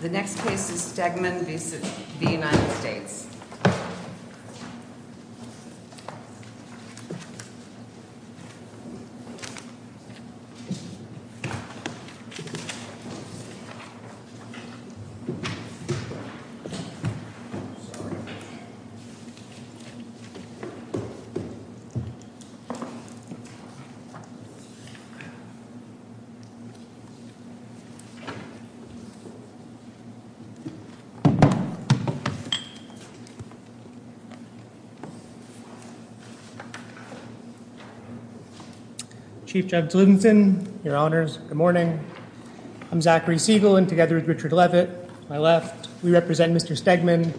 The next case is Stegemann v. United States. Chief Judge Ludenthal, your Honours, good morning. I'm Zachary Siegel and together with Richard Levitt, my left, we represent Mr. Stegemann.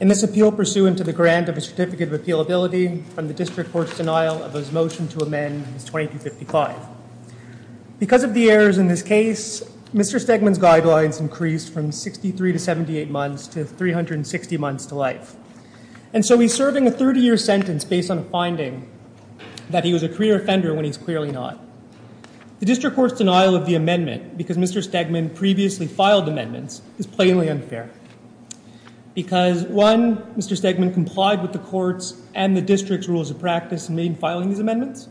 In this appeal pursuant to the grant of a Certificate of Appealability from the District Court's denial of his motion to amend 2255. Because of the errors in this case, Mr. Stegemann's guidelines increased from 63 to 78 months to 360 months to life. And so he's serving a 30-year sentence based on a finding that he was a career offender when he's clearly not. The District Court's denial of the amendment, because Mr. Stegemann previously filed amendments, is plainly unfair. Because, one, Mr. Stegemann complied with the Court's and the District's rules of practice in filing these amendments.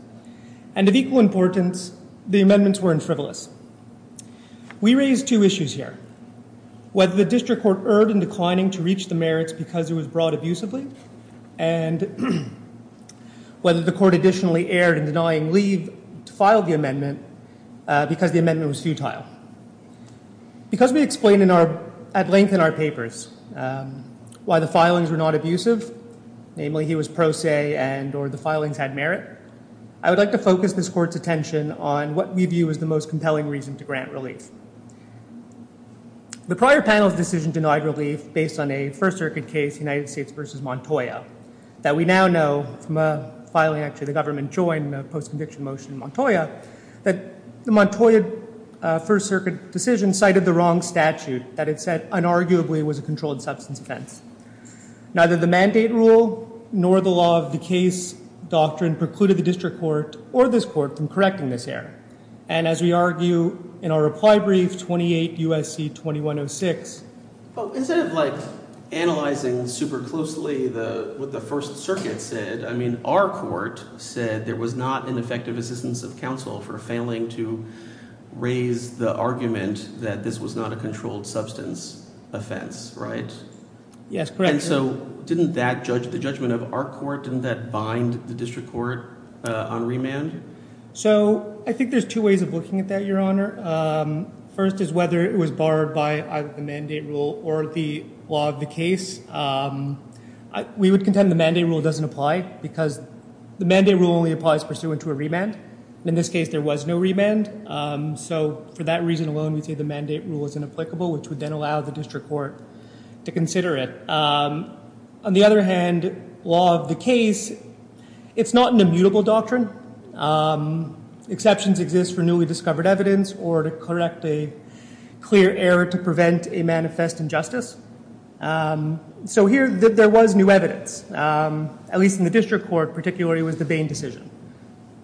And of equal importance, the amendments weren't frivolous. We raise two issues here. Whether the District Court erred in declining to reach the merits because it was brought abusively. And whether the Court additionally erred in denying leave to file the amendment because the amendment was futile. Because we explain at length in our papers why the filings were not abusive, namely he was pro se and or the filings had merit. I would like to focus this Court's attention on what we view as the most compelling reason to grant relief. The prior panel's decision denied relief based on a First Circuit case, United States v. Montoya, that we now know from a filing actually the government joined in a post-conviction motion in Montoya, that the Montoya First Circuit decision cited the wrong statute that it said unarguably was a controlled substance offense. Neither the mandate rule nor the law of the case doctrine precluded the District Court or this Court from correcting this error. And as we argue in our reply brief, 28 U.S.C. 2106. Well, instead of like analyzing super closely what the First Circuit said, I mean our court said there was not an effective assistance of counsel for failing to raise the argument that this was not a controlled substance offense, right? Yes, correct. And so didn't that judge – the judgment of our court, didn't that bind the District Court on remand? So I think there's two ways of looking at that, Your Honor. First is whether it was barred by either the mandate rule or the law of the case. We would contend the mandate rule doesn't apply because the mandate rule only applies pursuant to a remand. In this case, there was no remand. So for that reason alone, we say the mandate rule is inapplicable, which would then allow the District Court to consider it. On the other hand, law of the case, it's not an immutable doctrine. Exceptions exist for newly discovered evidence or to correct a clear error to prevent a manifest injustice. So here there was new evidence, at least in the District Court, particularly with the Bain decision.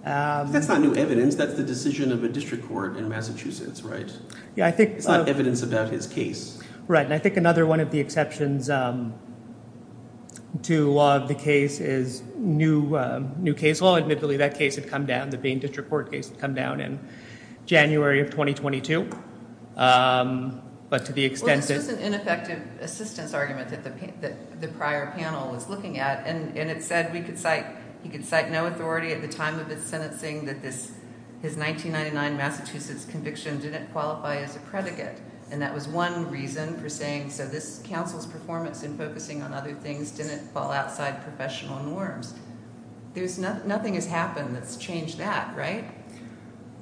That's not new evidence. That's the decision of a District Court in Massachusetts, right? Yeah, I think – It's not evidence about his case. Right, and I think another one of the exceptions to law of the case is new case law. Admittedly, that case had come down, the Bain District Court case had come down in January of 2022, but to the extent that – Well, this was an ineffective assistance argument that the prior panel was looking at, and it said we could cite – he could cite no authority at the time of his sentencing that his 1999 Massachusetts conviction didn't qualify as a predicate. And that was one reason for saying, so this council's performance in focusing on other things didn't fall outside professional norms. There's – nothing has happened that's changed that, right?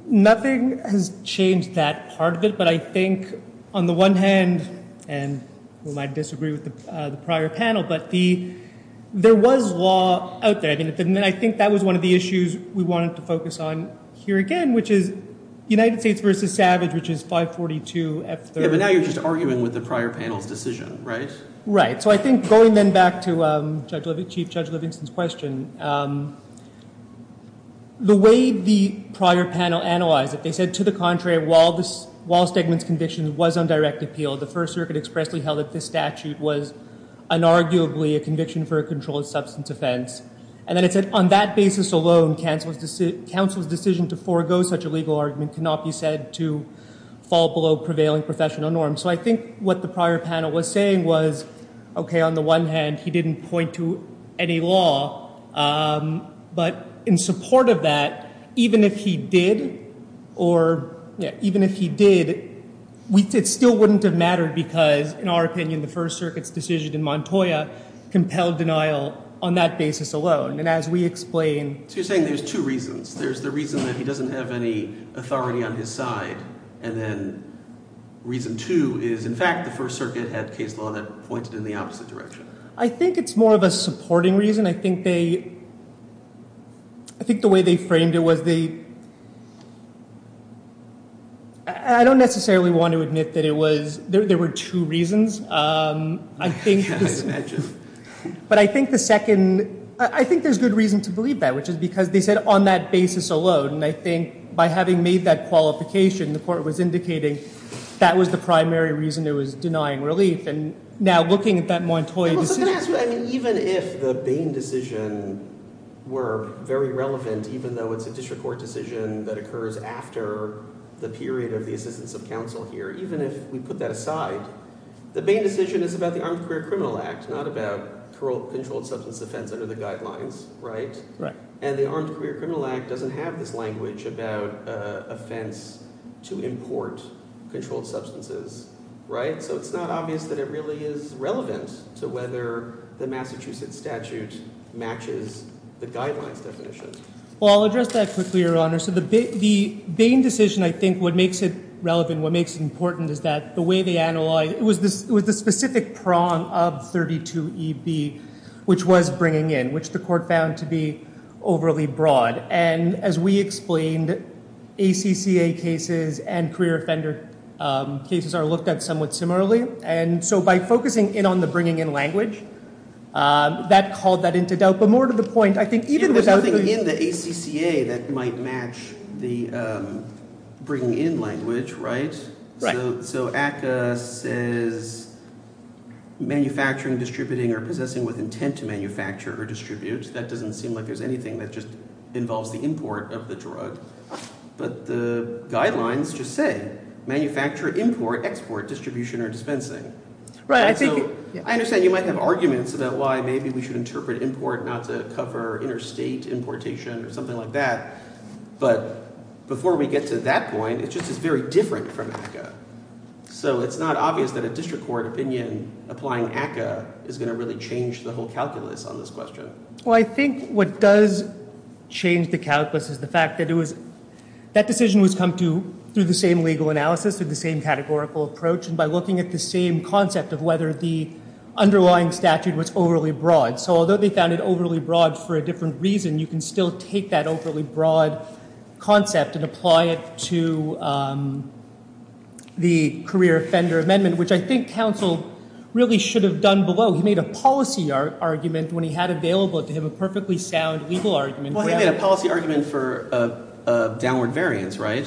Nothing has changed that part of it, but I think on the one hand, and we might disagree with the prior panel, but there was law out there. And I think that was one of the issues we wanted to focus on here again, which is United States v. Savage, which is 542F3. Yeah, but now you're just arguing with the prior panel's decision, right? Right, so I think going then back to Chief Judge Livingston's question, the way the prior panel analyzed it, they said to the contrary, while Stegman's conviction was on direct appeal, the First Circuit expressly held that this statute was unarguably a conviction for a controlled substance offense. And then it said on that basis alone, council's decision to forego such a legal argument cannot be said to fall below prevailing professional norms. So I think what the prior panel was saying was, okay, on the one hand, he didn't point to any law, but in support of that, even if he did, or even if he did, it still wouldn't have mattered because, in our opinion, the First Circuit's decision in Montoya compelled denial on that basis alone. And as we explain— So you're saying there's two reasons. There's the reason that he doesn't have any authority on his side. And then reason two is, in fact, the First Circuit had case law that pointed in the opposite direction. I think it's more of a supporting reason. I think they—I think the way they framed it was they—I don't necessarily want to admit that it was— there were two reasons. I think— I can't imagine. But I think the second—I think there's good reason to believe that, which is because they said on that basis alone. And I think by having made that qualification, the court was indicating that was the primary reason it was denying relief. And now looking at that Montoya decision— Even if the Bain decision were very relevant, even though it's a district court decision that occurs after the period of the assistance of counsel here, even if we put that aside, the Bain decision is about the Armed Career Criminal Act, not about controlled substance offense under the guidelines, right? Right. And the Armed Career Criminal Act doesn't have this language about offense to import controlled substances, right? So it's not obvious that it really is relevant to whether the Massachusetts statute matches the guidelines definition. Well, I'll address that quickly, Your Honor. So the Bain decision, I think what makes it relevant, what makes it important is that the way they analyzed— it was the specific prong of 32EB, which was bringing in, which the court found to be overly broad. And as we explained, ACCA cases and career offender cases are looked at somewhat similarly. And so by focusing in on the bringing in language, that called that into doubt. But more to the point, I think even without— There's nothing in the ACCA that might match the bringing in language, right? Right. So ACCA says manufacturing, distributing, or possessing with intent to manufacture or distribute. That doesn't seem like there's anything that just involves the import of the drug. But the guidelines just say manufacture, import, export, distribution, or dispensing. Right. I think— And so I understand you might have arguments about why maybe we should interpret import not to cover interstate importation or something like that. But before we get to that point, it just is very different from ACCA. So it's not obvious that a district court opinion applying ACCA is going to really change the whole calculus on this question. Well, I think what does change the calculus is the fact that it was— that decision was come to through the same legal analysis, through the same categorical approach, and by looking at the same concept of whether the underlying statute was overly broad. So although they found it overly broad for a different reason, you can still take that overly broad concept and apply it to the career offender amendment, which I think counsel really should have done below. He made a policy argument when he had available to him a perfectly sound legal argument. Well, he made a policy argument for a downward variance, right?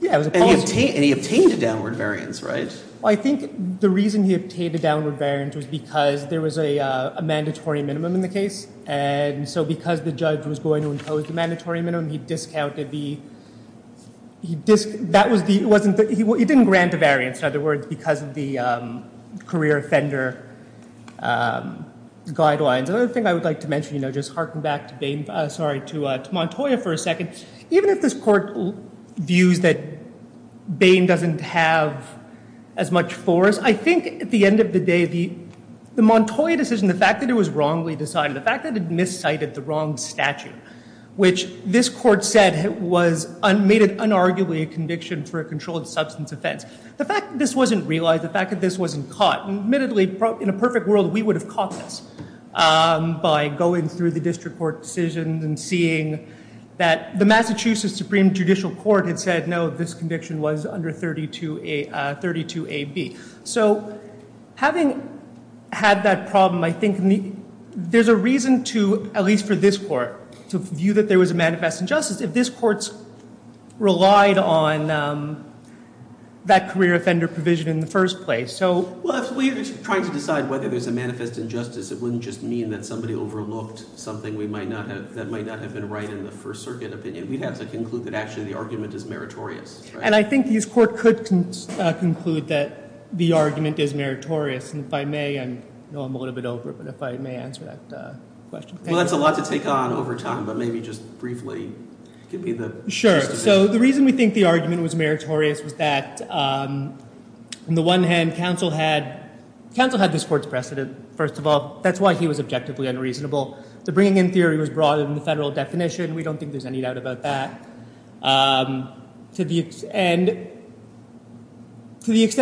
Yeah, it was a policy— And he obtained a downward variance, right? Well, I think the reason he obtained a downward variance was because there was a mandatory minimum in the case. And so because the judge was going to impose the mandatory minimum, he discounted the— he didn't grant a variance, in other words, because of the career offender guidelines. Another thing I would like to mention, you know, just harken back to Bain— sorry, to Montoya for a second. Even if this court views that Bain doesn't have as much force, I think at the end of the day, the Montoya decision, the fact that it was wrongly decided, the fact that it miscited the wrong statute, which this court said was— made it unarguably a conviction for a controlled substance offense, the fact that this wasn't realized, the fact that this wasn't caught— admittedly, in a perfect world, we would have caught this by going through the district court decisions and seeing that the Massachusetts Supreme Judicial Court had said, no, this conviction was under 32A—32AB. So having had that problem, I think there's a reason to, at least for this court, to view that there was a manifest injustice if this court relied on that career offender provision in the first place. So— Well, if we're trying to decide whether there's a manifest injustice, it wouldn't just mean that somebody overlooked something we might not have— that might not have been right in the First Circuit opinion. We'd have to conclude that actually the argument is meritorious. And I think this court could conclude that the argument is meritorious. And if I may, I know I'm a little bit over, but if I may answer that question. Well, that's a lot to take on over time, but maybe just briefly give me the— Sure. So the reason we think the argument was meritorious was that, on the one hand, counsel had—counsel had this court's precedent, first of all. That's why he was objectively unreasonable. The bringing in theory was brought in the federal definition. We don't think there's any doubt about that. And to the extent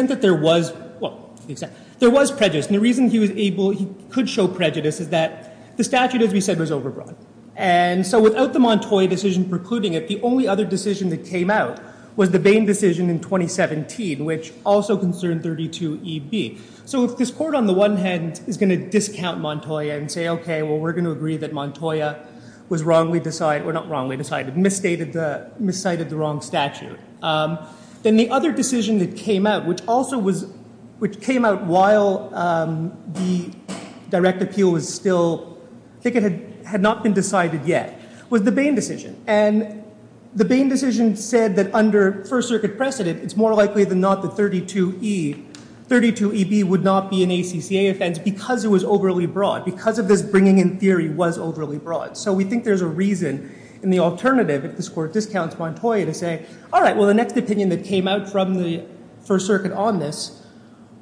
that there was—well, to the extent— there was prejudice, and the reason he was able—he could show prejudice is that the statute, as we said, was overbroad. And so without the Montoya decision precluding it, the only other decision that came out was the Bain decision in 2017, which also concerned 32EB. So if this court, on the one hand, is going to discount Montoya and say, okay, well, we're going to agree that Montoya was wrongly decided— or not wrongly decided, misstated the wrong statute. Then the other decision that came out, which also was— which came out while the direct appeal was still— I think it had not been decided yet, was the Bain decision. And the Bain decision said that under First Circuit precedent, it's more likely than not that 32EB would not be an ACCA offense because it was overly broad, because of this bringing in theory was overly broad. So we think there's a reason in the alternative if this court discounts Montoya to say, all right, well, the next opinion that came out from the First Circuit on this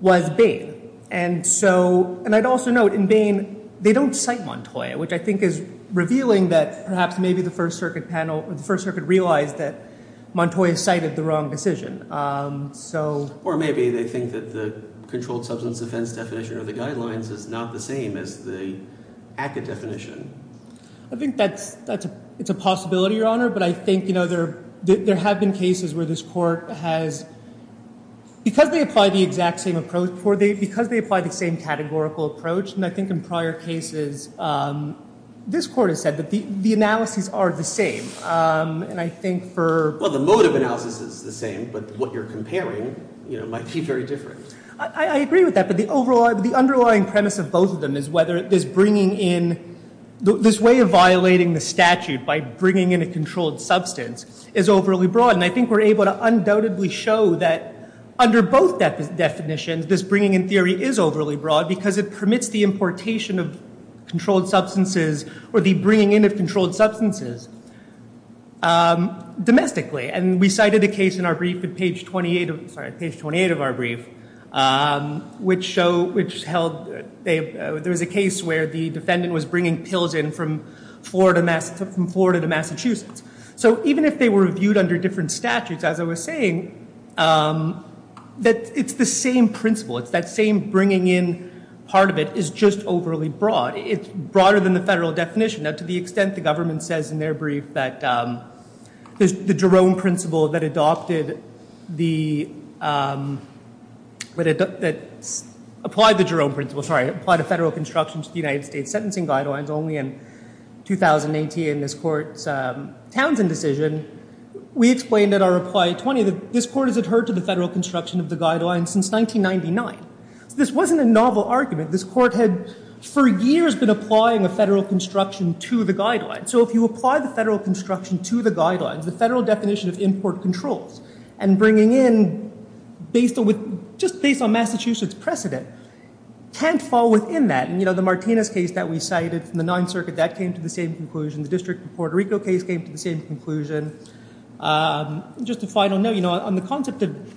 was Bain. And so—and I'd also note, in Bain, they don't cite Montoya, which I think is revealing that perhaps maybe the First Circuit panel— the First Circuit realized that Montoya cited the wrong decision. So— Or maybe they think that the controlled substance offense definition or the guidelines is not the same as the ACCA definition. I think that's—it's a possibility, Your Honor. But I think, you know, there have been cases where this court has— because they apply the exact same approach— because they apply the same categorical approach, and I think in prior cases, this court has said that the analyses are the same. And I think for— Well, the mode of analysis is the same, but what you're comparing, you know, might be very different. I agree with that. But the underlying premise of both of them is whether this bringing in— this way of violating the statute by bringing in a controlled substance is overly broad. And I think we're able to undoubtedly show that under both definitions, this bringing in theory is overly broad because it permits the importation of controlled substances or the bringing in of controlled substances domestically. And we cited a case in our brief at page 28 of our brief, which showed—which held— there was a case where the defendant was bringing pills in from Florida to Massachusetts. So even if they were viewed under different statutes, as I was saying, it's the same principle. It's that same bringing in part of it is just overly broad. It's broader than the federal definition. Now, to the extent the government says in their brief that the Jerome principle that adopted the— that applied the Jerome principle— sorry, applied a federal construction to the United States sentencing guidelines only in 2018 in this court's Townsend decision, we explained in our reply 20 that this court has adhered to the federal construction of the guidelines since 1999. This wasn't a novel argument. This court had for years been applying a federal construction to the guidelines. So if you apply the federal construction to the guidelines, the federal definition of import controls and bringing in based on—just based on Massachusetts precedent can't fall within that. And, you know, the Martinez case that we cited from the Ninth Circuit, that came to the same conclusion. The District of Puerto Rico case came to the same conclusion. Just a final note, you know, on the concept of—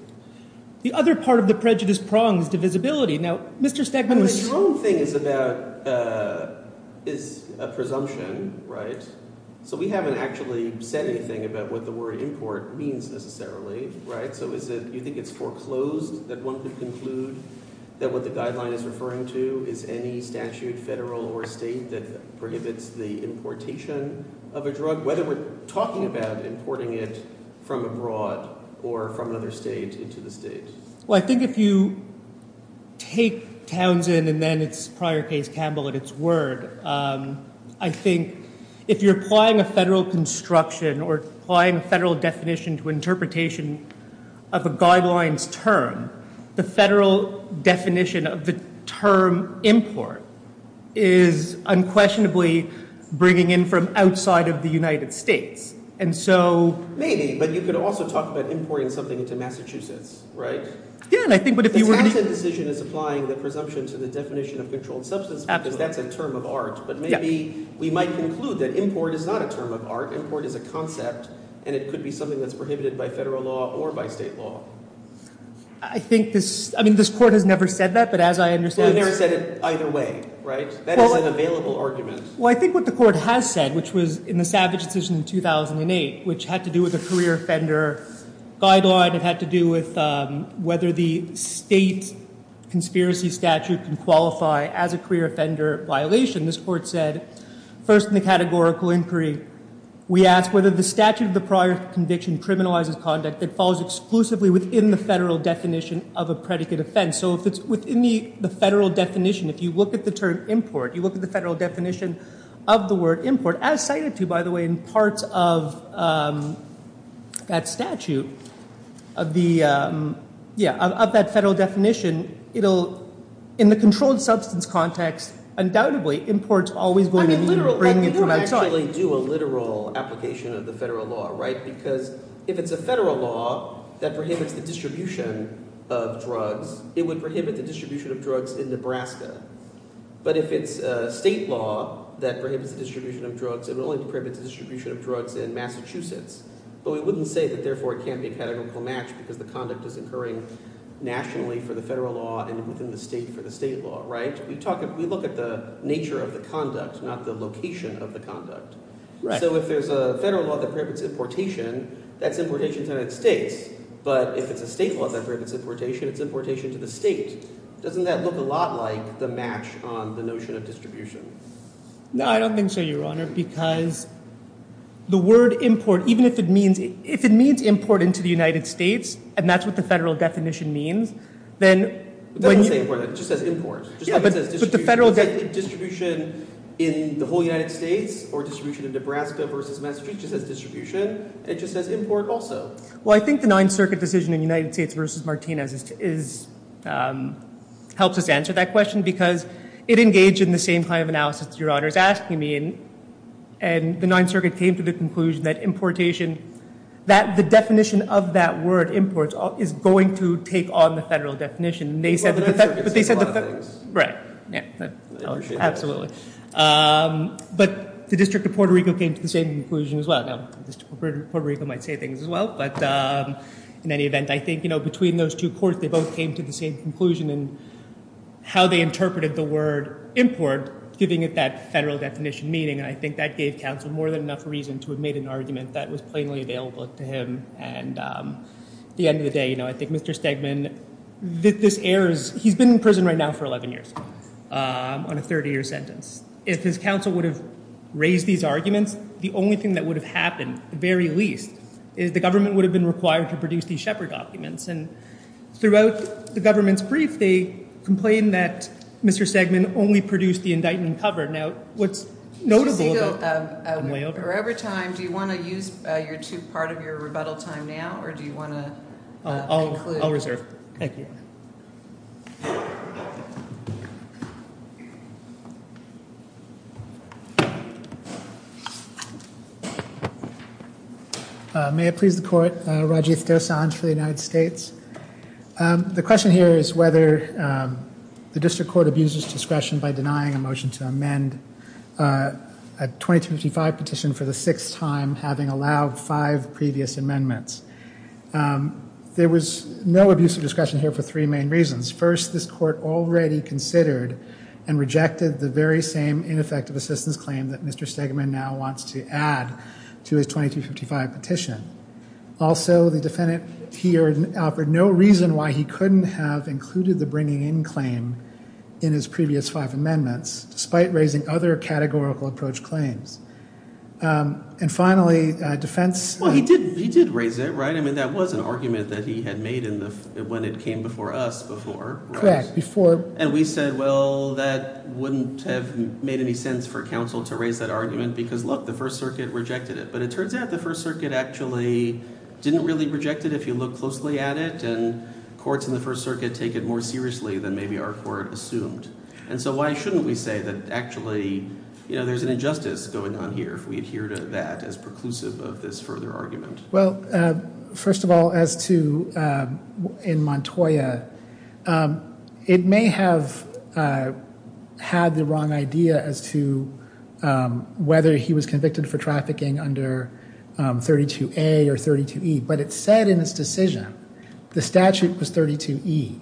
the other part of the prejudice prong is divisibility. Now, Mr. Stegman— The Jerome thing is about—is a presumption, right? So we haven't actually said anything about what the word import means necessarily, right? So is it—you think it's foreclosed that one could conclude that what the guideline is referring to is any statute, federal or state, that prohibits the importation of a drug, whether we're talking about importing it from abroad or from another state into the state? Well, I think if you take Townsend and then its prior case Campbell at its word, I think if you're applying a federal construction or applying a federal definition to interpretation of a guideline's term, the federal definition of the term import is unquestionably bringing in from outside of the United States. And so— You're talking about importing something into Massachusetts, right? Yeah, and I think what if you were going to— If the Townsend decision is applying the presumption to the definition of controlled substance, because that's a term of art, but maybe we might conclude that import is not a term of art. Import is a concept, and it could be something that's prohibited by federal law or by state law. I think this—I mean, this Court has never said that, but as I understand— Well, it never said it either way, right? That is an available argument. Well, I think what the Court has said, which was in the Savage decision in 2008, which had to do with the career offender guideline. It had to do with whether the state conspiracy statute can qualify as a career offender violation. This Court said, first in the categorical inquiry, we ask whether the statute of the prior conviction criminalizes conduct that falls exclusively within the federal definition of a predicate offense. So if it's within the federal definition, if you look at the term import, you look at the federal definition of the word import, as cited to, by the way, in parts of that statute of the—yeah, of that federal definition. It'll—in the controlled substance context, undoubtedly, import's always going to be bringing it from outside. I mean, you don't actually do a literal application of the federal law, right? Because if it's a federal law that prohibits the distribution of drugs, it would prohibit the distribution of drugs in Nebraska. But if it's a state law that prohibits the distribution of drugs, it would only prohibit the distribution of drugs in Massachusetts. But we wouldn't say that, therefore, it can't be a categorical match because the conduct is occurring nationally for the federal law and within the state for the state law, right? We talk—we look at the nature of the conduct, not the location of the conduct. So if there's a federal law that prohibits importation, that's importation to the United States. But if it's a state law that prohibits importation, it's importation to the state. Doesn't that look a lot like the match on the notion of distribution? No, I don't think so, Your Honor, because the word import, even if it means— if it means import into the United States, and that's what the federal definition means, then when you— But that's the same word. It just says import. Yeah, but the federal definition— Distribution in the whole United States or distribution in Nebraska versus Massachusetts just says distribution. It just says import also. Well, I think the Ninth Circuit decision in United States versus Martinez is—helps us answer that question because it engaged in the same kind of analysis that Your Honor is asking me. And the Ninth Circuit came to the conclusion that importation—that the definition of that word import is going to take on the federal definition. Well, the Ninth Circuit said a lot of things. Right. I appreciate that. Absolutely. But the District of Puerto Rico came to the same conclusion as well. I don't know if the District of Puerto Rico might say things as well. But in any event, I think, you know, between those two courts, they both came to the same conclusion in how they interpreted the word import, giving it that federal definition meaning. And I think that gave counsel more than enough reason to have made an argument that was plainly available to him. And at the end of the day, you know, I think Mr. Stegman—this airs— he's been in prison right now for 11 years on a 30-year sentence. If his counsel would have raised these arguments, the only thing that would have happened, at the very least, is the government would have been required to produce these Shepard documents. And throughout the government's brief, they complained that Mr. Stegman only produced the indictment cover. Now, what's notable— Mr. Segal, we're over time. Do you want to use your two part of your rebuttal time now, or do you want to conclude? I'll reserve. Thank you. May it please the court. Rajiv Dosan for the United States. The question here is whether the district court abuses discretion by denying a motion to amend a 2255 petition for the sixth time, having allowed five previous amendments. There was no abuse of discretion here for three main reasons. First, this court already considered and rejected the very same ineffective assistance claim that Mr. Stegman now wants to add to his 2255 petition. Also, the defendant here offered no reason why he couldn't have included the bringing in claim in his previous five amendments, despite raising other categorical approach claims. And finally, defense— Well, he did raise it, right? I mean, that was an argument that he had made when it came before us before. Correct. Before— And we said, well, that wouldn't have made any sense for counsel to raise that argument because, look, the First Circuit rejected it. But it turns out the First Circuit actually didn't really reject it if you look closely at it, and courts in the First Circuit take it more seriously than maybe our court assumed. And so why shouldn't we say that actually there's an injustice going on here if we adhere to that as preclusive of this further argument? Well, first of all, as to—in Montoya, it may have had the wrong idea as to whether he was convicted for trafficking under 32A or 32E, but it said in its decision the statute was 32E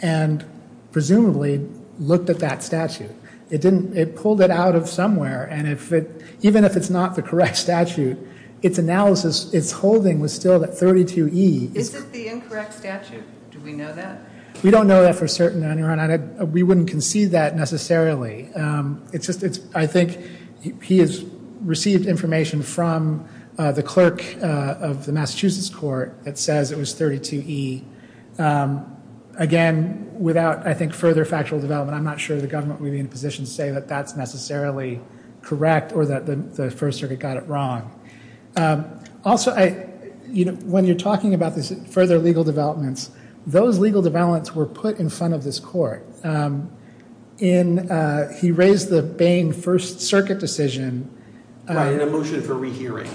and presumably looked at that statute. It didn't—it pulled it out of somewhere. And if it—even if it's not the correct statute, its analysis, its holding was still that 32E— Is it the incorrect statute? Do we know that? We don't know that for certain, Your Honor, and we wouldn't concede that necessarily. It's just—I think he has received information from the clerk of the Massachusetts court that says it was 32E. Again, without, I think, further factual development, I'm not sure the government would be in a position to say that that's necessarily correct or that the First Circuit got it wrong. Also, I—you know, when you're talking about this further legal developments, those legal developments were put in front of this court. In—he raised the Bain First Circuit decision. Right, in a motion for rehearing.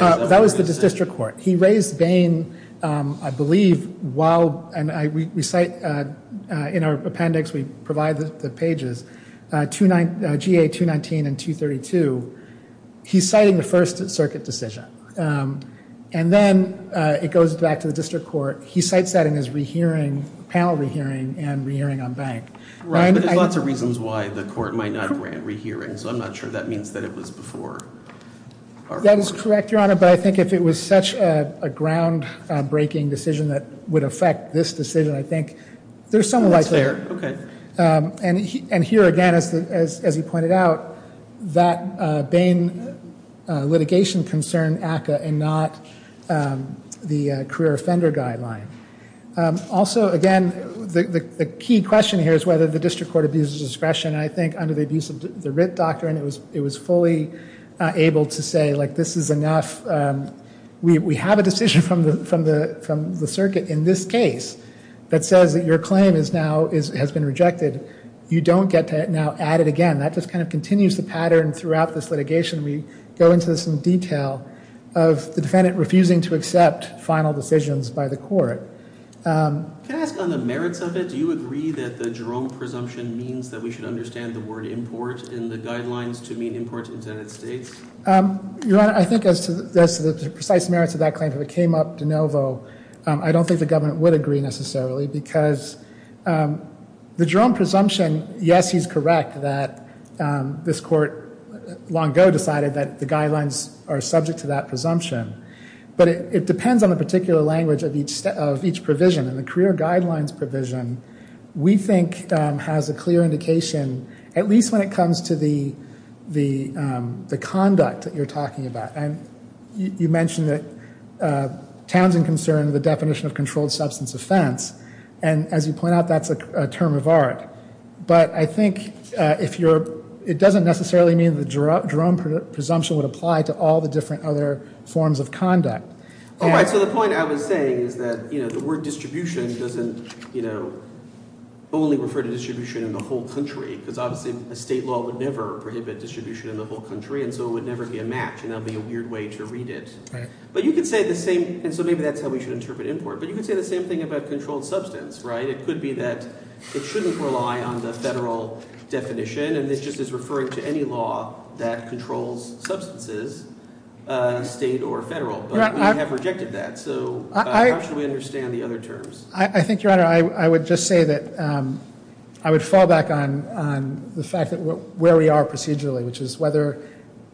That was the district court. He raised Bain, I believe, while—and we cite in our appendix, we provide the pages—GA 219 and 232. He's citing the First Circuit decision. And then it goes back to the district court. He cites that in his panel rehearing and rehearing on bank. Right, but there's lots of reasons why the court might not grant rehearing, so I'm not sure that means that it was before. That is correct, Your Honor. But I think if it was such a groundbreaking decision that would affect this decision, I think there's some— Oh, that's fair. Okay. And here, again, as he pointed out, that Bain litigation concerned ACCA and not the career offender guideline. Also, again, the key question here is whether the district court abuses discretion. I think under the abuse of the writ doctrine, it was fully able to say, like, this is enough. We have a decision from the circuit in this case that says that your claim is now—has been rejected. You don't get to now add it again. That just kind of continues the pattern throughout this litigation. We go into some detail of the defendant refusing to accept final decisions by the court. Can I ask on the merits of it? Do you agree that the Jerome presumption means that we should understand the word import in the guidelines to mean import to the United States? Your Honor, I think as to the precise merits of that claim, if it came up de novo, I don't think the government would agree necessarily, because the Jerome presumption, yes, he's correct that this court long ago decided that the guidelines are subject to that presumption. But it depends on the particular language of each provision. In the career guidelines provision, we think has a clear indication, at least when it comes to the conduct that you're talking about. And you mentioned that Townsend concerned the definition of controlled substance offense. And as you point out, that's a term of art. But I think it doesn't necessarily mean the Jerome presumption would apply to all the different other forms of conduct. All right. So the point I was saying is that the word distribution doesn't only refer to distribution in the whole country, because obviously a state law would never prohibit distribution in the whole country, and so it would never be a match. And that would be a weird way to read it. But you could say the same, and so maybe that's how we should interpret import. But you could say the same thing about controlled substance, right? It could be that it shouldn't rely on the federal definition, and it just is referring to any law that controls substances, state or federal. But we have rejected that, so how should we understand the other terms? I think, Your Honor, I would just say that I would fall back on the fact that where we are procedurally, which is whether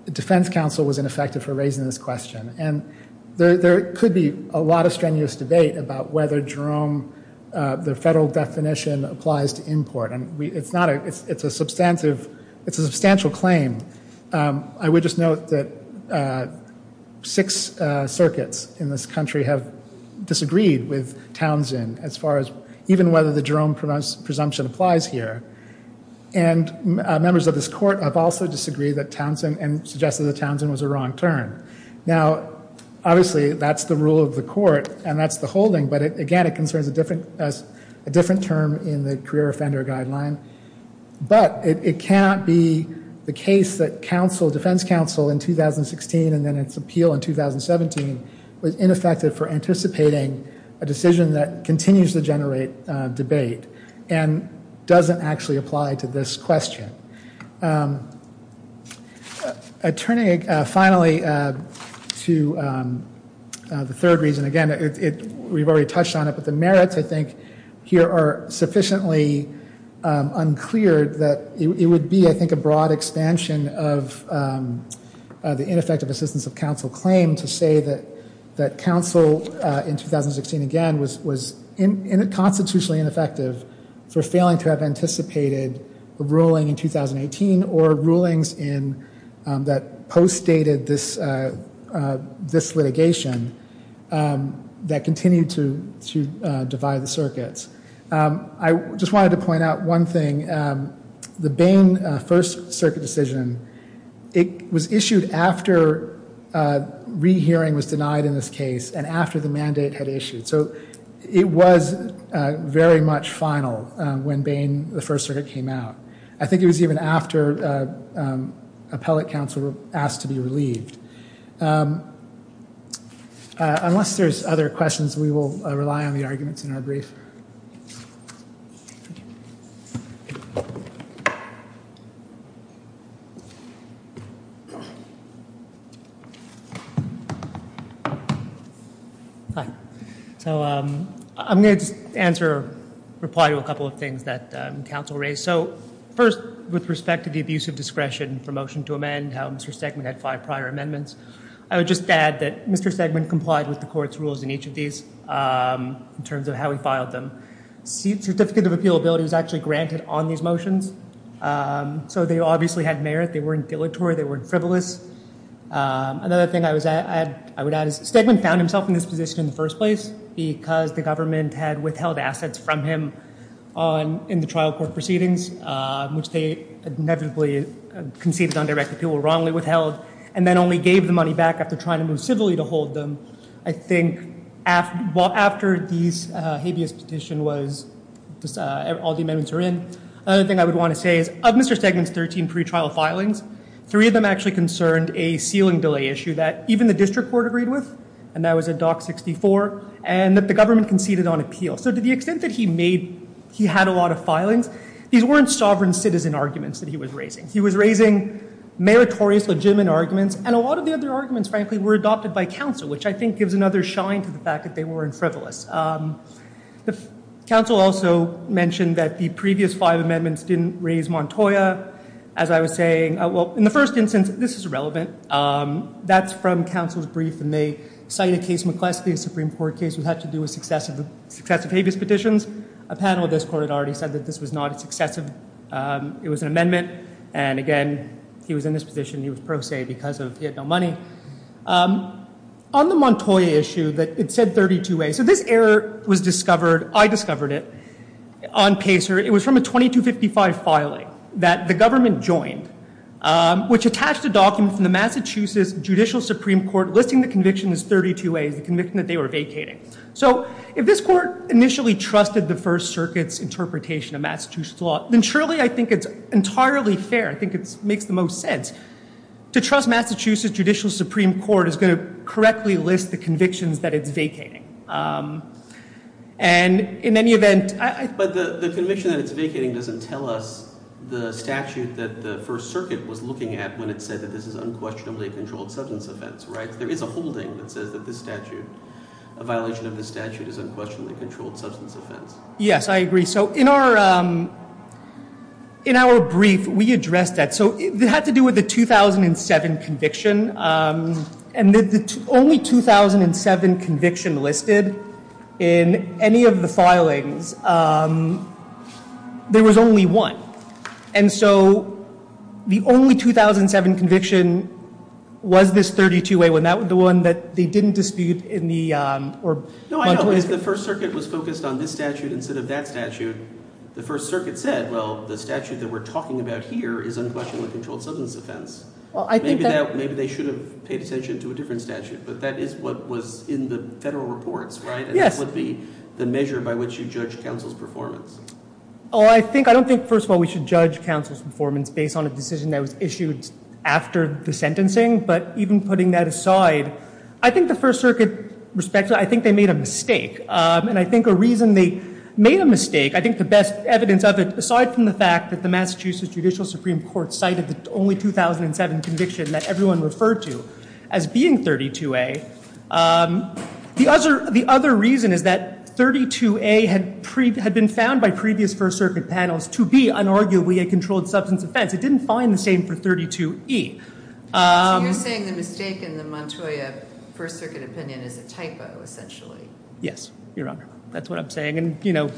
the defense counsel was ineffective for raising this question. And there could be a lot of strenuous debate about whether Jerome, the federal definition, applies to import. It's a substantial claim. I would just note that six circuits in this country have disagreed with Townsend as far as even whether the Jerome presumption applies here. And members of this court have also disagreed with Townsend and suggested that Townsend was a wrong turn. Now, obviously, that's the rule of the court, and that's the holding. But, again, it concerns a different term in the career offender guideline. But it cannot be the case that defense counsel in 2016 and then its appeal in 2017 was ineffective for anticipating a decision that continues to generate debate and doesn't actually apply to this question. Turning finally to the third reason, again, we've already touched on it, but the merits, I think, here are sufficiently unclear that it would be, I think, a broad expansion of the ineffective assistance of counsel claim to say that counsel in 2016, again, was constitutionally ineffective for failing to have anticipated a ruling in 2018 or rulings that post-dated this litigation that continued to divide the circuits. I just wanted to point out one thing. The Bain First Circuit decision, it was issued after rehearing was denied in this case and after the mandate had issued. So it was very much final when Bain First Circuit came out. I think it was even after appellate counsel were asked to be relieved. Unless there's other questions, we will rely on the arguments in our brief. Hi. So I'm going to answer, reply to a couple of things that counsel raised. So first, with respect to the abuse of discretion for motion to amend, how Mr. Segment had five prior amendments, I would just add that Mr. Segment complied with the court's rules in each of these in terms of how he filed them. Certificate of appealability was actually granted on these motions. So they obviously had merit. They weren't dilatory. They weren't frivolous. Another thing I would add is Segment found himself in this position in the first place because the government had withheld assets from him in the trial court proceedings, which they inevitably conceded on direct appeal, wrongly withheld, and then only gave the money back after trying to move civilly to hold them. I think after these habeas petition was all the amendments were in, another thing I would want to say is of Mr. Segment's 13 pretrial filings, three of them actually concerned a ceiling delay issue that even the district court agreed with, and that was at Dock 64, and that the government conceded on appeal. So to the extent that he had a lot of filings, these weren't sovereign citizen arguments that he was raising. He was raising meritorious, legitimate arguments, and a lot of the other arguments, frankly, were adopted by counsel, which I think gives another shine to the fact that they weren't frivolous. The counsel also mentioned that the previous five amendments didn't raise Montoya. As I was saying, well, in the first instance, this is irrelevant. That's from counsel's brief, and they cite a case, McCleskey, a Supreme Court case that had to do with successive habeas petitions. A panel of this court had already said that this was not a successive. It was an amendment, and again, he was in this position. He was pro se because he had no money. On the Montoya issue, it said 32a. So this error was discovered. I discovered it on Pacer. It was from a 2255 filing that the government joined, which attached a document from the Massachusetts Judicial Supreme Court listing the conviction as 32a. It's the conviction that they were vacating. So if this court initially trusted the First Circuit's interpretation of Massachusetts law, then surely I think it's entirely fair. I think it makes the most sense. To trust Massachusetts Judicial Supreme Court is going to correctly list the convictions that it's vacating. And in any event— But the conviction that it's vacating doesn't tell us the statute that the First Circuit was looking at when it said that this is unquestionably a controlled substance offense, right? There is a holding that says that this statute, a violation of this statute, is unquestionably a controlled substance offense. Yes, I agree. So in our brief, we addressed that. So it had to do with the 2007 conviction. And the only 2007 conviction listed in any of the filings, there was only one. And so the only 2007 conviction was this 32a one. That was the one that they didn't dispute in the— No, I know. If the First Circuit was focused on this statute instead of that statute, the First Circuit said, well, the statute that we're talking about here is unquestionably a controlled substance offense. Well, I think that— Maybe they should have paid attention to a different statute. But that is what was in the federal reports, right? Yes. And that would be the measure by which you judge counsel's performance. Well, I think—I don't think, first of all, we should judge counsel's performance based on a decision that was issued after the sentencing. But even putting that aside, I think the First Circuit, respectfully, I think they made a mistake. And I think a reason they made a mistake, I think the best evidence of it, aside from the fact that the Massachusetts Judicial Supreme Court cited the only 2007 conviction that everyone referred to as being 32a, the other reason is that 32a had been found by previous First Circuit panels to be unarguably a controlled substance offense. It didn't find the same for 32e. So you're saying the mistake in the Montoya First Circuit opinion is a typo, essentially? Yes, Your Honor. That's what I'm saying. And, you know,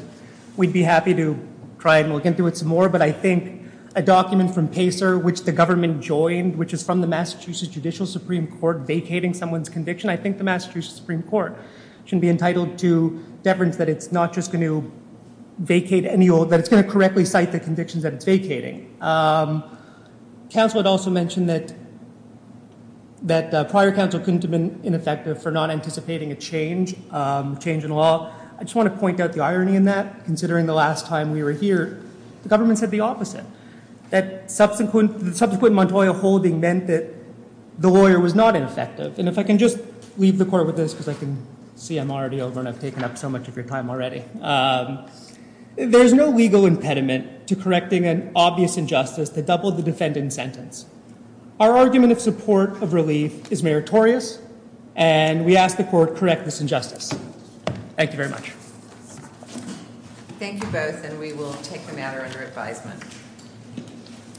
we'd be happy to try and look into it some more. But I think a document from PACER, which the government joined, which is from the Massachusetts Judicial Supreme Court vacating someone's conviction, I think the Massachusetts Supreme Court should be entitled to deference that it's not just going to vacate any old— that it's going to correctly cite the convictions that it's vacating. Counsel had also mentioned that prior counsel couldn't have been ineffective for not anticipating a change in law. I just want to point out the irony in that. Considering the last time we were here, the government said the opposite. That subsequent Montoya holding meant that the lawyer was not ineffective. And if I can just leave the court with this, because I can see I'm already over and I've taken up so much of your time already. There's no legal impediment to correcting an obvious injustice to double the defendant's sentence. Our argument of support of relief is meritorious, and we ask the court correct this injustice. Thank you very much. Thank you both, and we will take the matter under advisement. Thank you.